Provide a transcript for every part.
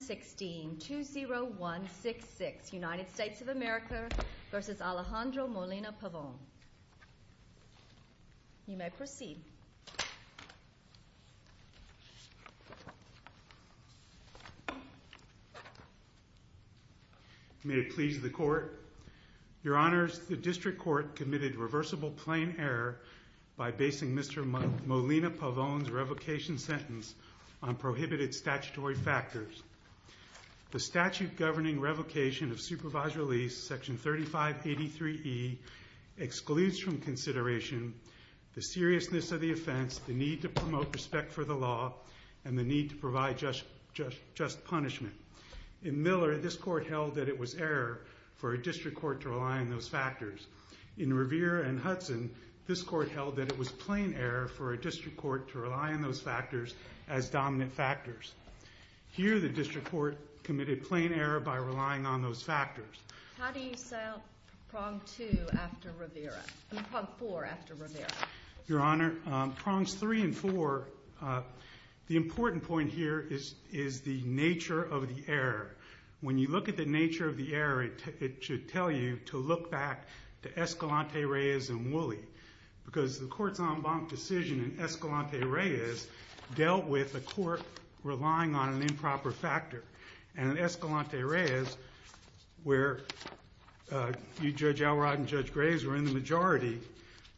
16, 2016 United States of America v. Alejandro Molina Pavon. You may proceed. May it please the Court. Your Honors, the District Court committed reversible plain error by basing Mr. Molina Pavon's revocation sentence on prohibited statutory factors. The statute governing revocation of supervised release, Section 3583E, excludes from consideration the seriousness of the offense, the need to promote respect for the law, and the need to provide just punishment. In Miller, this Court held that it was error for a District Court to rely on those factors. In Revere and Hudson, this Court held that it was plain error for a District Court to rely on those factors as dominant factors. Here, the District Court committed plain error by relying on those factors. Your Honor, prongs three and four, the important point here is the nature of the error. When you look at the nature of the error, it should tell you to look back to Escalante, Reyes, and Woolley, because the Court's en banc decision in Escalante, Reyes dealt with a court relying on an improper factor. And in Escalante, Reyes, where Judge Alrod and Judge Graves were in the majority,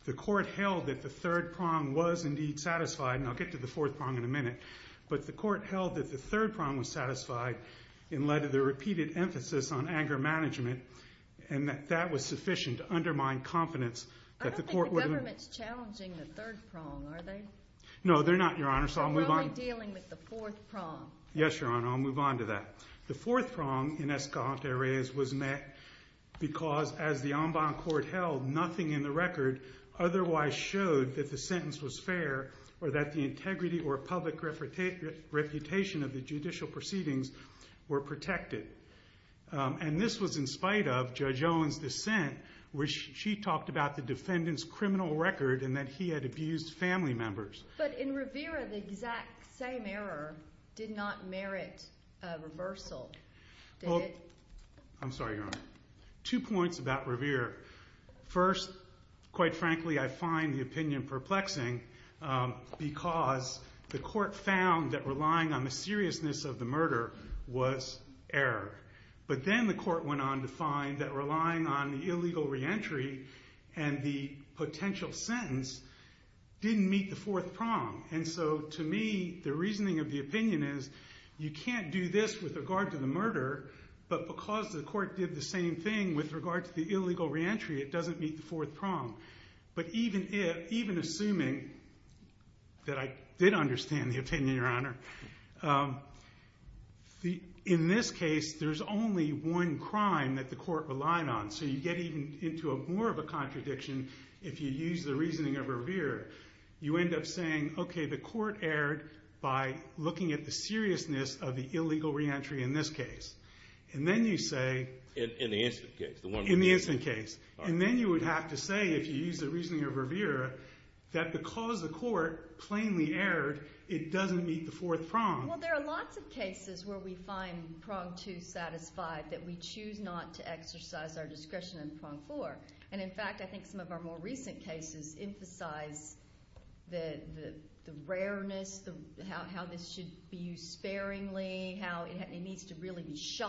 the Court held that the third prong was indeed satisfied, and I'll get to the fourth prong in a minute, but the Court held that the third prong was satisfied and led to the repeated emphasis on anger management, and that that was sufficient to undermine confidence I don't think the government's challenging the third prong, are they? No, they're not, Your Honor, so I'll move on. So we're only dealing with the fourth prong. Yes, Your Honor, I'll move on to that. The fourth prong in Escalante, Reyes was met because, as the en banc Court held, nothing in the record otherwise showed that the sentence was fair or that the integrity or public reputation of the judicial proceedings were protected. And this was in spite of Judge Owen's dissent, where she talked about the defendant's criminal record and that he had abused family members. But in Rivera, the exact same error did not merit a reversal. I'm sorry, Your Honor. Two points about Rivera. First, quite frankly, I find the opinion perplexing because the Court found that relying on the seriousness of the murder was error. But then the Court went on to find that relying on the illegal re-entry and the potential sentence didn't meet the fourth prong. And so, to me, the reasoning of the opinion is you can't do this with regard to the murder, but because the Court did the same thing with regard to the illegal re-entry, it doesn't meet the fourth prong. But even assuming that I did understand the opinion, Your Honor, in this case, there's only one crime that the Court relied on. So you get even into more of a contradiction if you use the reasoning of Rivera. You end up saying, okay, the Court erred by looking at the seriousness of the illegal re-entry in this case. And then you say... In the instant case. In the instant case. And then you would have to say, if you use the reasoning of Rivera, that because the Court plainly erred, it doesn't meet the fourth prong. Well, there are lots of cases where we find prong two satisfied that we choose not to exercise our discretion in prong four. And in fact, I think some of our more recent cases emphasize the rareness, how this should be used sparingly, how it needs to really be used.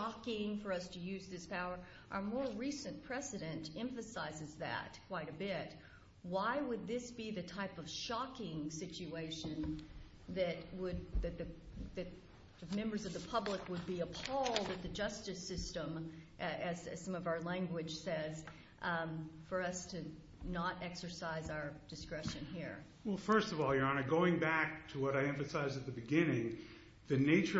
And our more recent precedent emphasizes that quite a bit. Why would this be the type of shocking situation that members of the public would be appalled at the justice system, as some of our language says, for us to not exercise our discretion here? Well, first of all, Your Honor, going back to what I emphasized at the beginning, the analysis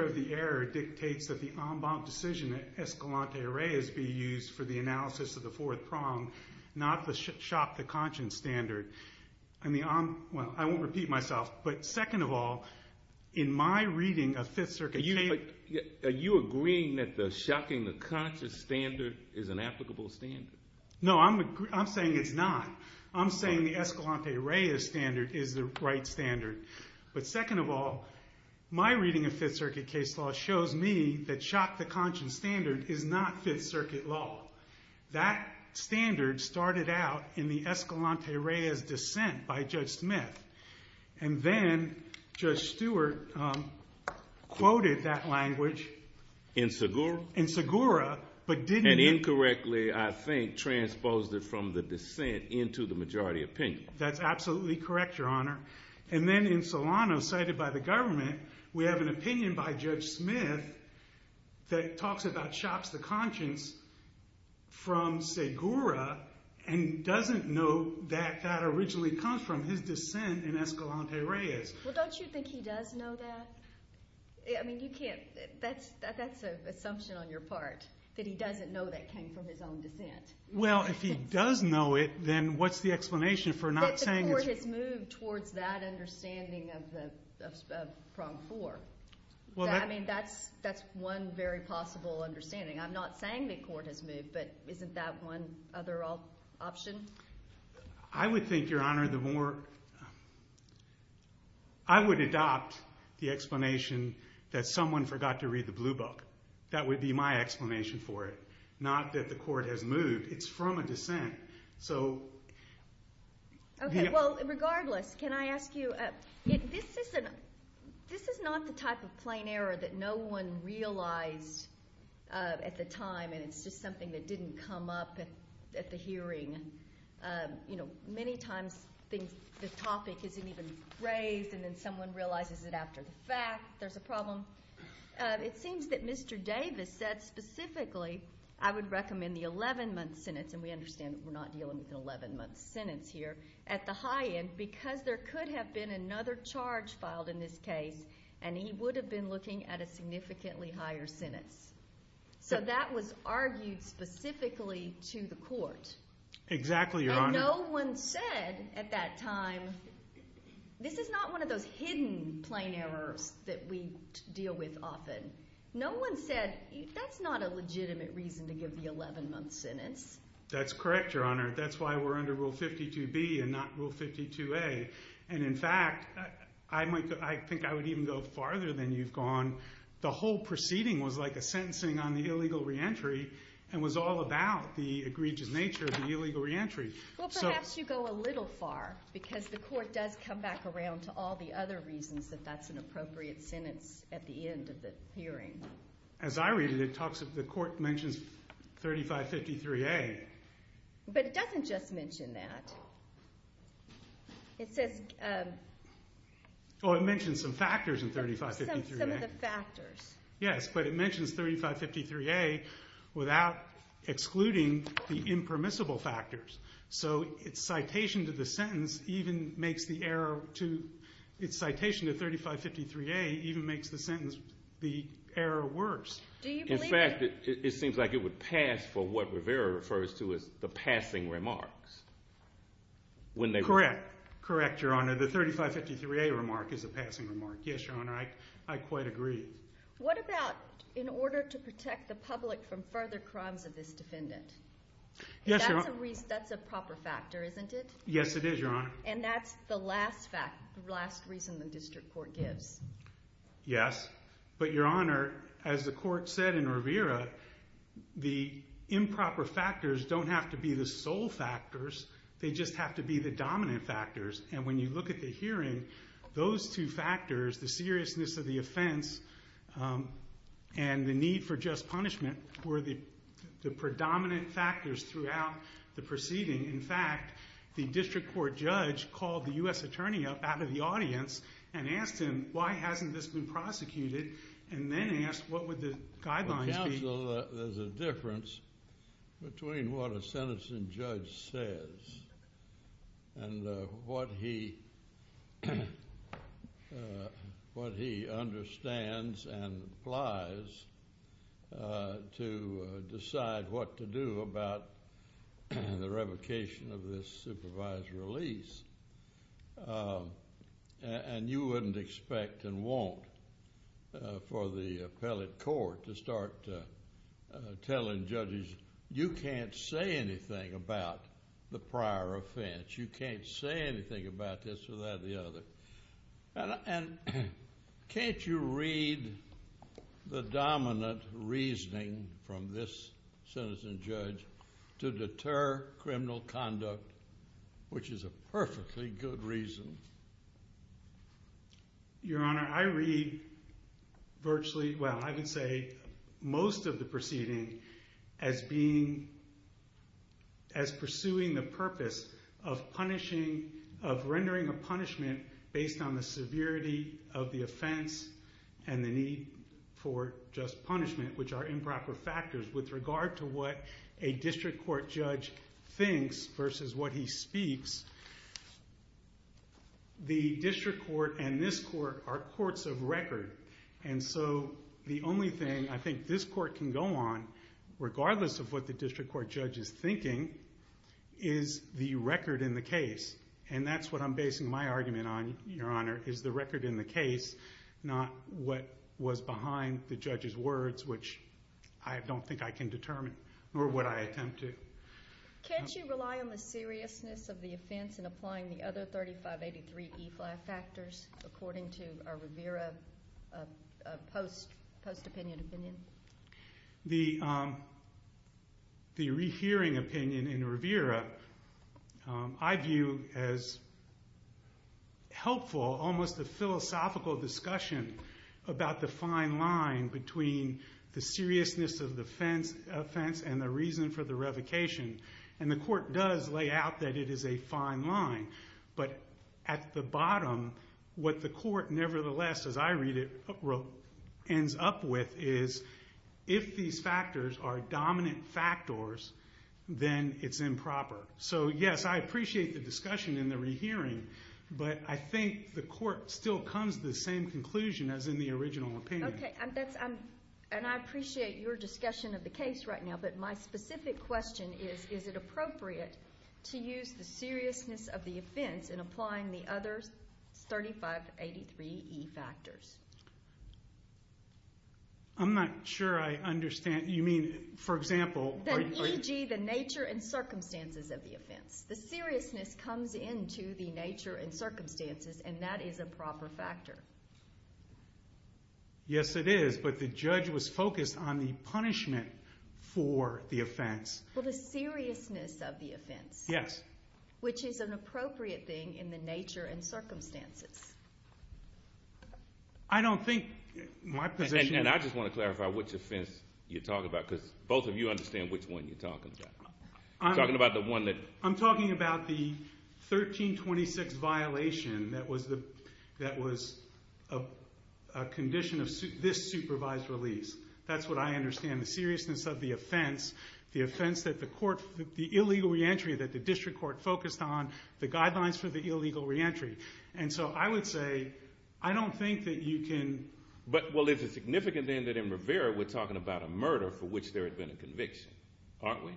of the fourth prong, not the shock to conscience standard. I mean, I'm... Well, I won't repeat myself, but second of all, in my reading of Fifth Circuit case... Are you agreeing that the shocking to conscience standard is an applicable standard? No, I'm saying it's not. I'm saying the Escalante-Reyes standard is the right standard. But second of all, my reading of Fifth Circuit case law shows me that shock to conscience standard is not Fifth Circuit law. That standard started out in the Escalante-Reyes dissent by Judge Smith, and then Judge Stewart quoted that language... In Segura? In Segura, but didn't... And incorrectly, I think, transposed it from the dissent into the majority opinion. That's absolutely correct, Your Honor. And then in Solano, cited by the government, we have an opinion by Judge Smith that talks about shock to conscience from Segura and doesn't know that that originally comes from his dissent in Escalante-Reyes. Well, don't you think he does know that? I mean, you can't... That's an assumption on your part, that he doesn't know that came from his own dissent. Well, if he does know it, then what's the explanation for not saying... The court has moved towards that understanding of Prong 4. I mean, that's one very possible understanding. I'm not saying the court has moved, but isn't that one other option? I would think, Your Honor, the more... I would adopt the explanation that someone forgot to read the blue book. That would be my explanation for it, not that the court has moved. It's from a dissent. So... Okay, well, regardless, can I ask you... This is not the type of plain error that no one realized at the time, and it's just something that didn't come up at the hearing. You know, many times the topic isn't even raised, and then someone realizes it after the fact, there's a problem. It seems that Mr. Davis said specifically, I would recommend the 11-month sentence, and we understand that we're not dealing with an 11-month sentence here, at the high end because there could have been another charge filed in this case, and he would have been looking at a significantly higher sentence. So that was argued specifically to the court. Exactly, Your Honor. And no one said at that time... This is not one of those hidden plain errors that we deal with often. No one said, that's not a legitimate reason to give the 11-month sentence. That's correct, Your Honor. That's why we're under Rule 52B and not Rule 52A. And in fact, I think I would even go farther than you've gone. The whole proceeding was like a sentencing on the illegal reentry and was all about the egregious nature of the illegal reentry. Well, perhaps you go a little far, because the court does come back around to all the other reasons that that's an appropriate sentence at the end of the hearing. As I read it, the court mentions 3553A. But it doesn't just mention that. It says... Oh, it mentions some factors in 3553A. Some of the factors. Yes, but it mentions 3553A without excluding the impermissible factors. So its citation to the sentence even makes the error to... Its citation to 3553A even makes the error worse. In fact, it seems like it would pass for what Rivera refers to as the passing remarks. Correct. Correct, Your Honor. The 3553A remark is a passing remark. Yes, Your Honor, I quite agree. What about in order to protect the public from further crimes of this defendant? Yes, Your Honor. That's a proper factor, isn't it? Yes, it is, Your Honor. And that's the last reason the district court gives. Yes. But, Your Honor, as the court said in Rivera, the improper factors don't have to be the sole factors. They just have to be the dominant factors. And when you look at the hearing, those two factors, the seriousness of the offense and the need for just punishment, were the predominant factors throughout the proceeding. In fact, the district court judge called the U.S. attorney up out of the audience and asked him why hasn't this been prosecuted and then asked what would the guidelines be. Well, counsel, there's a difference between what a sentencing judge says and what he understands and applies to decide what to do about the revocation of this supervised release. And you wouldn't expect and won't for the appellate court to start telling judges, you can't say anything about the prior offense. You can't say anything about this or that or the other. And can't you read the dominant reasoning from this sentencing judge to deter criminal conduct, which is a perfectly good reason? Your Honor, I read virtually, well, I would say most of the proceeding as being, as pursuing the purpose of punishing, of rendering a punishment based on the severity of the offense and the need for just punishment, which are improper factors with regard to what a district court judge thinks versus what he speaks, the district court and this court are courts of record. And so the only thing I think this court can go on, regardless of what the district court judge is thinking, is the record in the case. And that's what I'm basing my argument on, Your Honor, is the record in the case, not what was behind the judge's words, which I don't think I can determine or what I attempt to. Can't you rely on the seriousness of the offense in applying the other 3583E5 factors according to a Rivera post-opinion opinion? The rehearing opinion in Rivera I view as helpful almost the philosophical discussion about the fine line between the seriousness of the offense and the reason for the revocation. And the court does lay out that it is a fine line. But at the bottom, what the court nevertheless, as I read it, ends up with, is if these factors are dominant factors, then it's improper. So, yes, I appreciate the discussion in the rehearing, but I think the court still comes to the same conclusion as in the original opinion. Okay, and I appreciate your discussion of the case right now, but my specific question is, is it appropriate to use the seriousness of the offense in applying the other 3583E factors? I'm not sure I understand. You mean, for example? The seriousness comes into the nature and circumstances, and that is a proper factor. Yes, it is, but the judge was focused on the punishment for the offense. Well, the seriousness of the offense. Yes. Which is an appropriate thing in the nature and circumstances. I don't think my position is— And I just want to clarify which offense you're talking about, because both of you understand which one you're talking about. I'm talking about the one that— I'm talking about the 1326 violation that was a condition of this supervised release. That's what I understand, the seriousness of the offense, the offense that the court—the illegal reentry that the district court focused on, the guidelines for the illegal reentry. And so I would say I don't think that you can— But, well, there's a significant thing that in Rivera we're talking about a murder for which there had been a conviction, aren't we?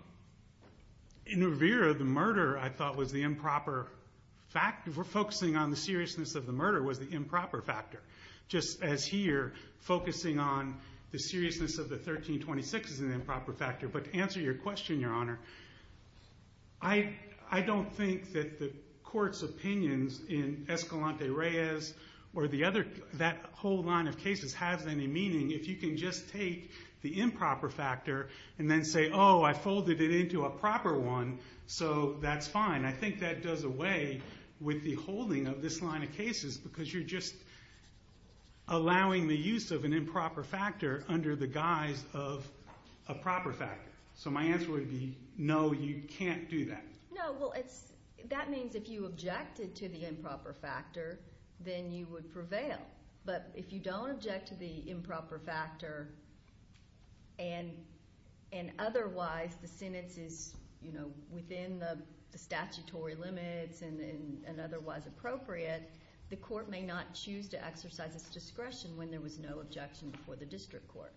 In Rivera, the murder, I thought, was the improper— focusing on the seriousness of the murder was the improper factor, just as here focusing on the seriousness of the 1326 is an improper factor. But to answer your question, Your Honor, I don't think that the court's opinions in Escalante-Reyes or the other— that whole line of cases has any meaning if you can just take the improper factor and then say, oh, I folded it into a proper one, so that's fine. I think that does away with the holding of this line of cases because you're just allowing the use of an improper factor under the guise of a proper factor. So my answer would be no, you can't do that. No, well, that means if you objected to the improper factor, then you would prevail. But if you don't object to the improper factor and otherwise the sentence is within the statutory limits and otherwise appropriate, the court may not choose to exercise its discretion when there was no objection before the district court.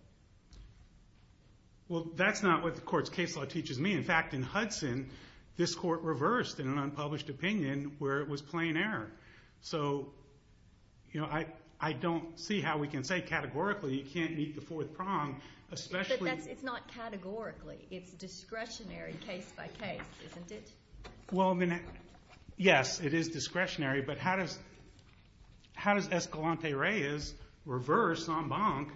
Well, that's not what the court's case law teaches me. In fact, in Hudson, this court reversed in an unpublished opinion where it was plain error. So I don't see how we can say categorically you can't meet the fourth prong, especially— But it's not categorically. It's discretionary case by case, isn't it? Well, yes, it is discretionary, but how does Escalante-Reyes reverse en banc?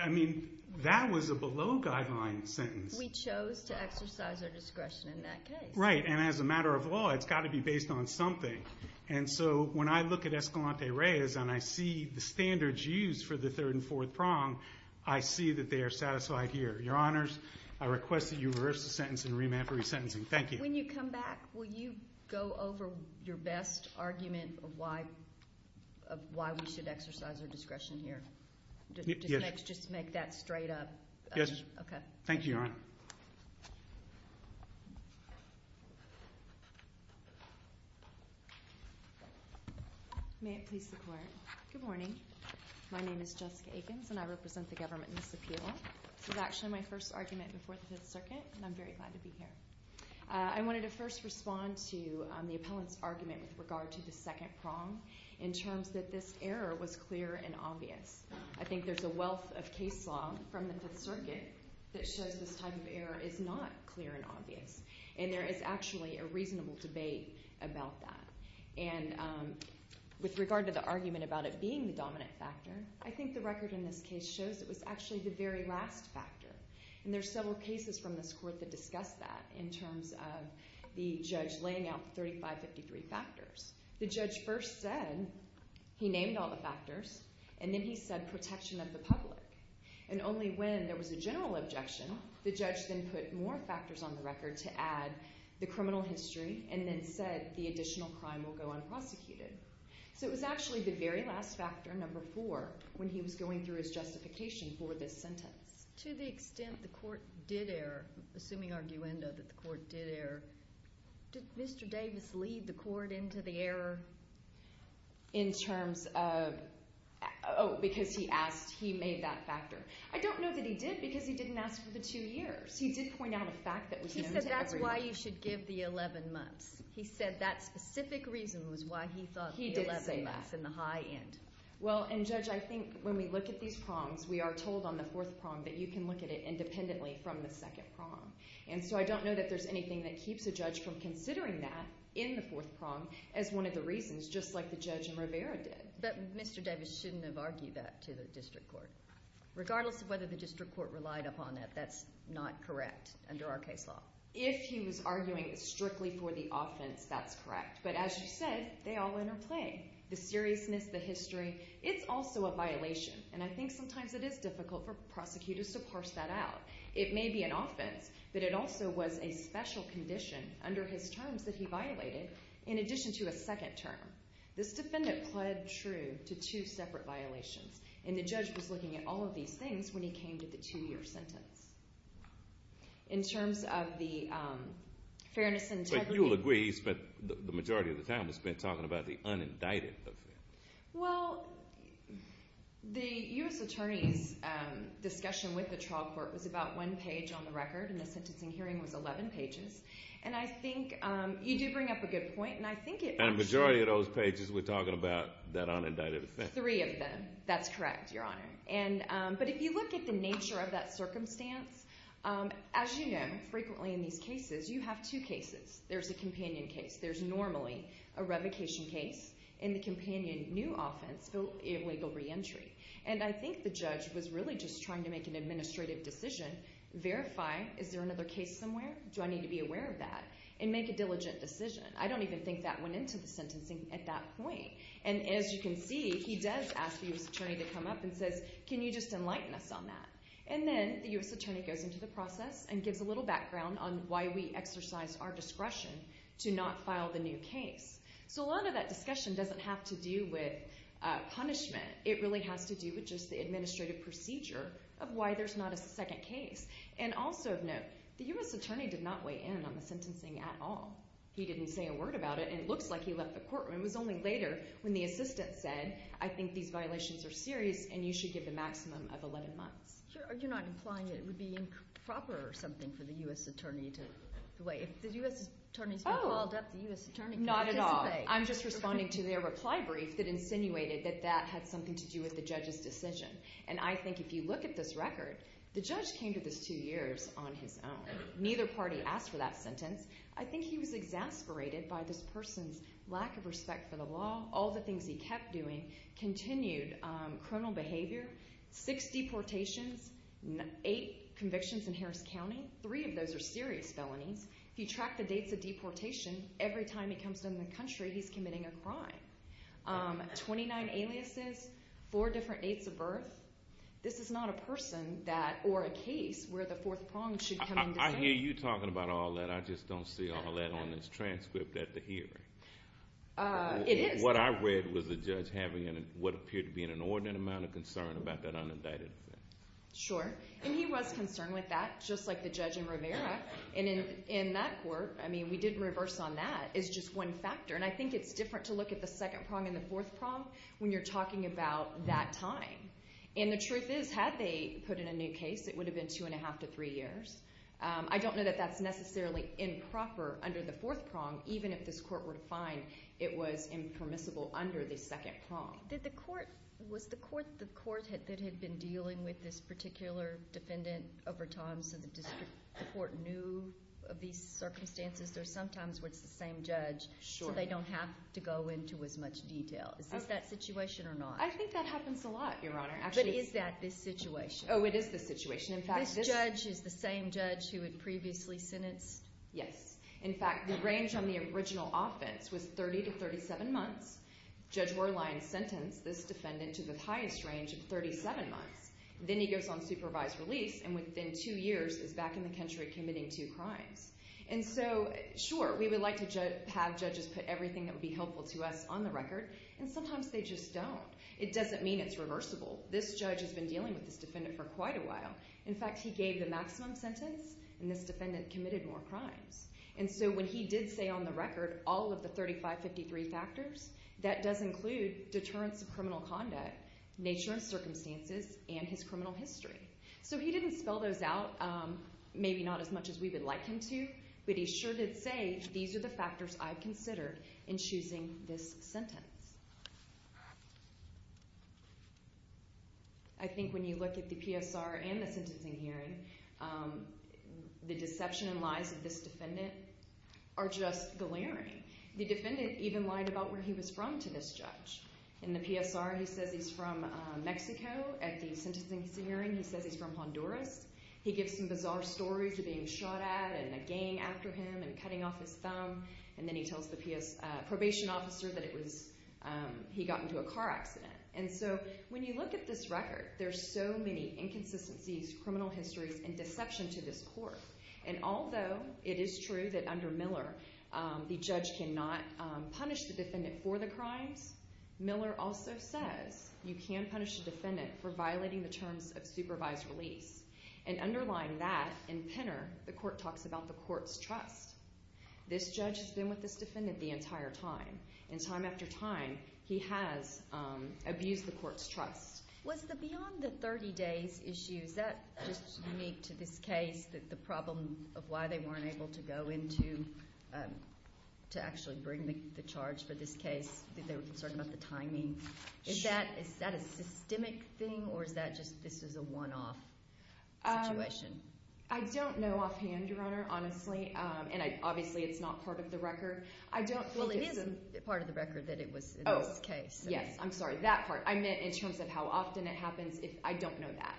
I mean, that was a below-guideline sentence. We chose to exercise our discretion in that case. Right, and as a matter of law, it's got to be based on something. And so when I look at Escalante-Reyes and I see the standards used for the third and fourth prong, I see that they are satisfied here. Your Honors, I request that you reverse the sentence and remand for resentencing. Thank you. When you come back, will you go over your best argument of why we should exercise our discretion here? Just make that straight up. Yes. Okay. Thank you, Your Honor. May it please the Court. Good morning. My name is Jessica Akins, and I represent the government in this appeal. This was actually my first argument before the Fifth Circuit, and I'm very glad to be here. I wanted to first respond to the appellant's argument with regard to the second prong in terms that this error was clear and obvious. I think there's a wealth of case law from the Fifth Circuit that shows this type of error is not clear and obvious. And there is actually a reasonable debate about that. And with regard to the argument about it being the dominant factor, I think the record in this case shows it was actually the very last factor. And there are several cases from this Court that discuss that in terms of the judge laying out the 3553 factors. The judge first said he named all the factors, and then he said protection of the public. And only when there was a general objection, the judge then put more factors on the record to add the criminal history and then said the additional crime will go unprosecuted. So it was actually the very last factor, number four, when he was going through his justification for this sentence. To the extent the Court did err, assuming arguendo that the Court did err, did Mr. Davis lead the Court into the error? In terms of, oh, because he asked, he made that factor. I don't know that he did because he didn't ask for the two years. He did point out a fact that was limited to everyone. He said that's why you should give the 11 months. He said that specific reason was why he thought the 11 months in the high end. Well, and Judge, I think when we look at these prongs, we are told on the fourth prong that you can look at it independently from the second prong. And so I don't know that there's anything that keeps a judge from considering that in the fourth prong as one of the reasons, just like the judge in Rivera did. But Mr. Davis shouldn't have argued that to the District Court. Regardless of whether the District Court relied upon that, that's not correct under our case law. If he was arguing strictly for the offense, that's correct. But as you said, they all interplay. The seriousness, the history, it's also a violation. And I think sometimes it is difficult for prosecutors to parse that out. It may be an offense, but it also was a special condition under his terms that he violated in addition to a second term. This defendant pled true to two separate violations, and the judge was looking at all of these things when he came to the two-year sentence. In terms of the fairness and integrity— But you will agree he spent the majority of the time he spent talking about the unindicted offense. Well, the U.S. Attorney's discussion with the trial court was about one page on the record, and the sentencing hearing was 11 pages. And I think you do bring up a good point, and I think it— And a majority of those pages were talking about that unindicted offense. Three of them. That's correct, Your Honor. But if you look at the nature of that circumstance, as you know, frequently in these cases, you have two cases. There's a companion case. There's normally a revocation case, and the companion new offense, illegal reentry. And I think the judge was really just trying to make an administrative decision, verify, is there another case somewhere? Do I need to be aware of that? And make a diligent decision. I don't even think that went into the sentencing at that point. And as you can see, he does ask the U.S. Attorney to come up and says, can you just enlighten us on that? And then the U.S. Attorney goes into the process and gives a little background on why we exercise our discretion to not file the new case. So a lot of that discussion doesn't have to do with punishment. It really has to do with just the administrative procedure of why there's not a second case. And also of note, the U.S. Attorney did not weigh in on the sentencing at all. He didn't say a word about it, and it looks like he left the courtroom. It was only later when the assistant said, I think these violations are serious and you should give the maximum of 11 months. You're not implying that it would be improper or something for the U.S. Attorney to weigh in? If the U.S. Attorney has been called up, the U.S. Attorney can participate. Not at all. I'm just responding to their reply brief that insinuated that that had something to do with the judge's decision. And I think if you look at this record, the judge came to this two years on his own. Neither party asked for that sentence. I think he was exasperated by this person's lack of respect for the law, all the things he kept doing, continued criminal behavior, six deportations, eight convictions in Harris County. Three of those are serious felonies. If you track the dates of deportation, every time he comes to the country, he's committing a crime. Twenty-nine aliases, four different dates of birth. This is not a person or a case where the fourth prong should come into play. I hear you talking about all that. I just don't see all that on this transcript at the hearing. What I read was the judge having what appeared to be an inordinate amount of concern about that unindicted offense. Sure. And he was concerned with that, just like the judge in Rivera. And in that court, I mean, we didn't reverse on that. It's just one factor. And I think it's different to look at the second prong and the fourth prong when you're talking about that time. And the truth is, had they put in a new case, it would have been two and a half to three years. I don't know that that's necessarily improper under the fourth prong, even if this court were to find it was impermissible under the second prong. Was the court that had been dealing with this particular defendant over time so the court knew of these circumstances? There are some times where it's the same judge, so they don't have to go into as much detail. Is this that situation or not? I think that happens a lot, Your Honor. But is that this situation? Oh, it is this situation. This judge is the same judge who had previously sentenced? Yes. In fact, the range on the original offense was 30 to 37 months. Judge Werlein sentenced this defendant to the highest range of 37 months. Then he goes on supervised release, and within two years is back in the country committing two crimes. And so, sure, we would like to have judges put everything that would be helpful to us on the record, and sometimes they just don't. It doesn't mean it's reversible. This judge has been dealing with this defendant for quite a while. In fact, he gave the maximum sentence, and this defendant committed more crimes. And so when he did say on the record all of the 3553 factors, that does include deterrence of criminal conduct, nature and circumstances, and his criminal history. So he didn't spell those out maybe not as much as we would like him to, but he sure did say these are the factors I've considered in choosing this sentence. I think when you look at the PSR and the sentencing hearing, the deception and lies of this defendant are just glaring. The defendant even lied about where he was from to this judge. In the PSR, he says he's from Mexico. At the sentencing hearing, he says he's from Honduras. He gives some bizarre stories of being shot at and a gang after him and cutting off his thumb, and then he tells the probation officer that he got into a car accident. And so when you look at this record, there's so many inconsistencies, criminal histories, and deception to this court. And although it is true that under Miller the judge cannot punish the defendant for the crimes, Miller also says you can punish the defendant for violating the terms of supervised release. And underlying that, in Penner, the court talks about the court's trust. This judge has been with this defendant the entire time, and time after time, he has abused the court's trust. Was the beyond the 30 days issue, is that just unique to this case, that the problem of why they weren't able to go into to actually bring the charge for this case, that they were concerned about the timing? Is that a systemic thing, or is that just this is a one-off situation? I don't know offhand, Your Honor, honestly, and obviously it's not part of the record. Well, it is part of the record that it was in this case. Yes, I'm sorry, that part. I meant in terms of how often it happens. I don't know that.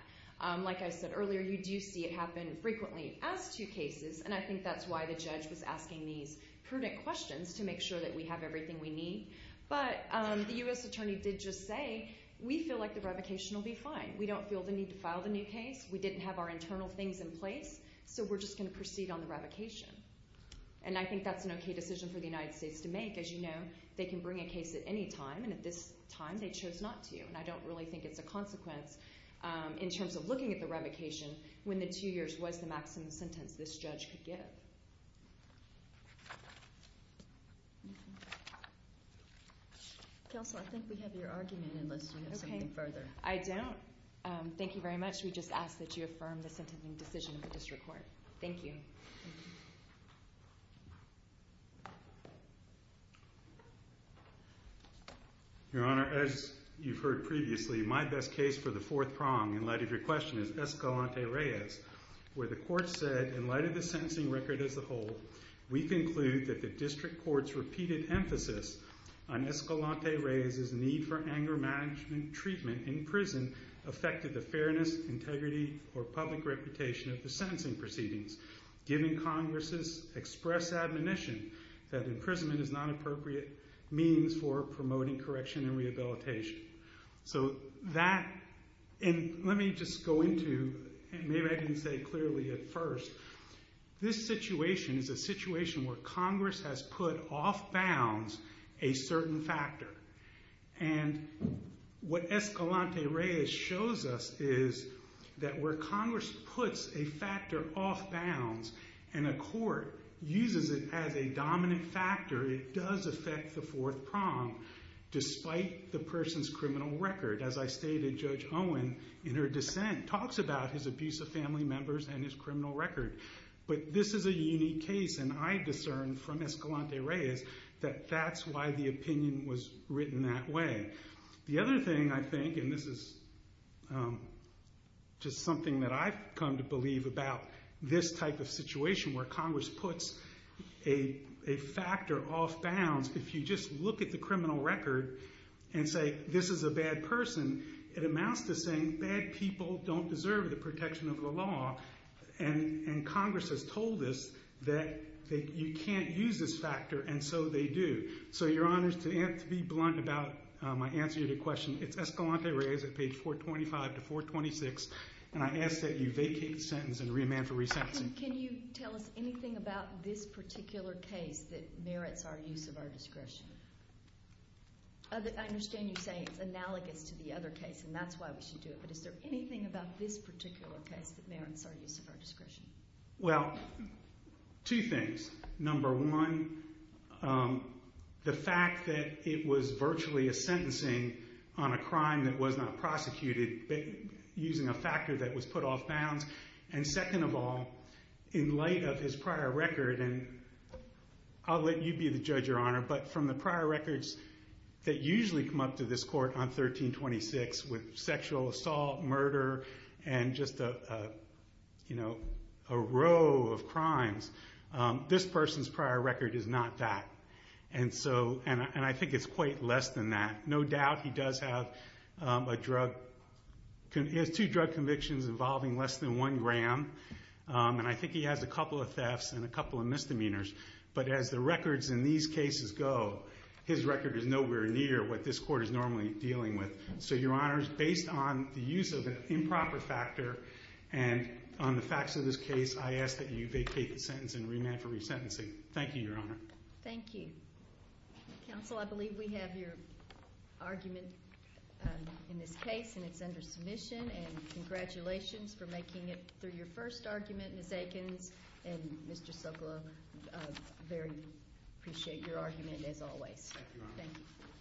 Like I said earlier, you do see it happen frequently as two cases, and I think that's why the judge was asking these prudent questions to make sure that we have everything we need. But the U.S. attorney did just say, we feel like the revocation will be fine. We don't feel the need to file the new case. We didn't have our internal things in place, so we're just going to proceed on the revocation. And I think that's an okay decision for the United States to make. As you know, they can bring a case at any time, and at this time they chose not to. And I don't really think it's a consequence in terms of looking at the revocation when the two years was the maximum sentence this judge could give. Counsel, I think we have your argument unless you have something further. I don't. Thank you very much. We just ask that you affirm the sentencing decision of the district court. Thank you. Your Honor, as you've heard previously, my best case for the fourth prong in light of your question is Escalante-Reyes, where the court said, in light of the sentencing record as a whole, we conclude that the district court's repeated emphasis on Escalante-Reyes' need for anger management treatment in prison affected the fairness, integrity, or public reputation of the sentencing proceedings, giving Congress' express admonition that imprisonment is not an appropriate means for promoting correction and rehabilitation. So that, and let me just go into, and maybe I didn't say it clearly at first, this situation is a situation where Congress has put off bounds a certain factor. And what Escalante-Reyes shows us is that where Congress puts a factor off bounds and a court uses it as a dominant factor, it does affect the fourth prong, despite the person's criminal record. As I stated, Judge Owen, in her dissent, talks about his abuse of family members and his criminal record. But this is a unique case, and I discern from Escalante-Reyes that that's why the opinion was written that way. The other thing I think, and this is just something that I've come to believe about this type of situation, where Congress puts a factor off bounds. If you just look at the criminal record and say, this is a bad person, it amounts to saying bad people don't deserve the protection of the law. And Congress has told us that you can't use this factor, and so they do. So, Your Honors, to be blunt about my answer to your question, it's Escalante-Reyes at page 425 to 426, and I ask that you vacate the sentence and remand for resensing. Can you tell us anything about this particular case that merits our use of our discretion? I understand you're saying it's analogous to the other case, and that's why we should do it, but is there anything about this particular case that merits our use of our discretion? Well, two things. Number one, the fact that it was virtually a sentencing on a crime that was not prosecuted, using a factor that was put off bounds. And second of all, in light of his prior record, and I'll let you be the judge, Your Honor, but from the prior records that usually come up to this court on 1326, with sexual assault, murder, and just a row of crimes, this person's prior record is not that. And I think it's quite less than that. No doubt he does have two drug convictions involving less than one gram, and I think he has a couple of thefts and a couple of misdemeanors. But as the records in these cases go, his record is nowhere near what this court is normally dealing with. So, Your Honor, based on the use of an improper factor and on the facts of this case, I ask that you vacate the sentence and remand for resentencing. Thank you, Your Honor. Thank you. Counsel, I believe we have your argument in this case, and it's under submission. And congratulations for making it through your first argument. Ms. Aikens and Mr. Sokolov, very appreciate your argument as always. Thank you, Your Honor.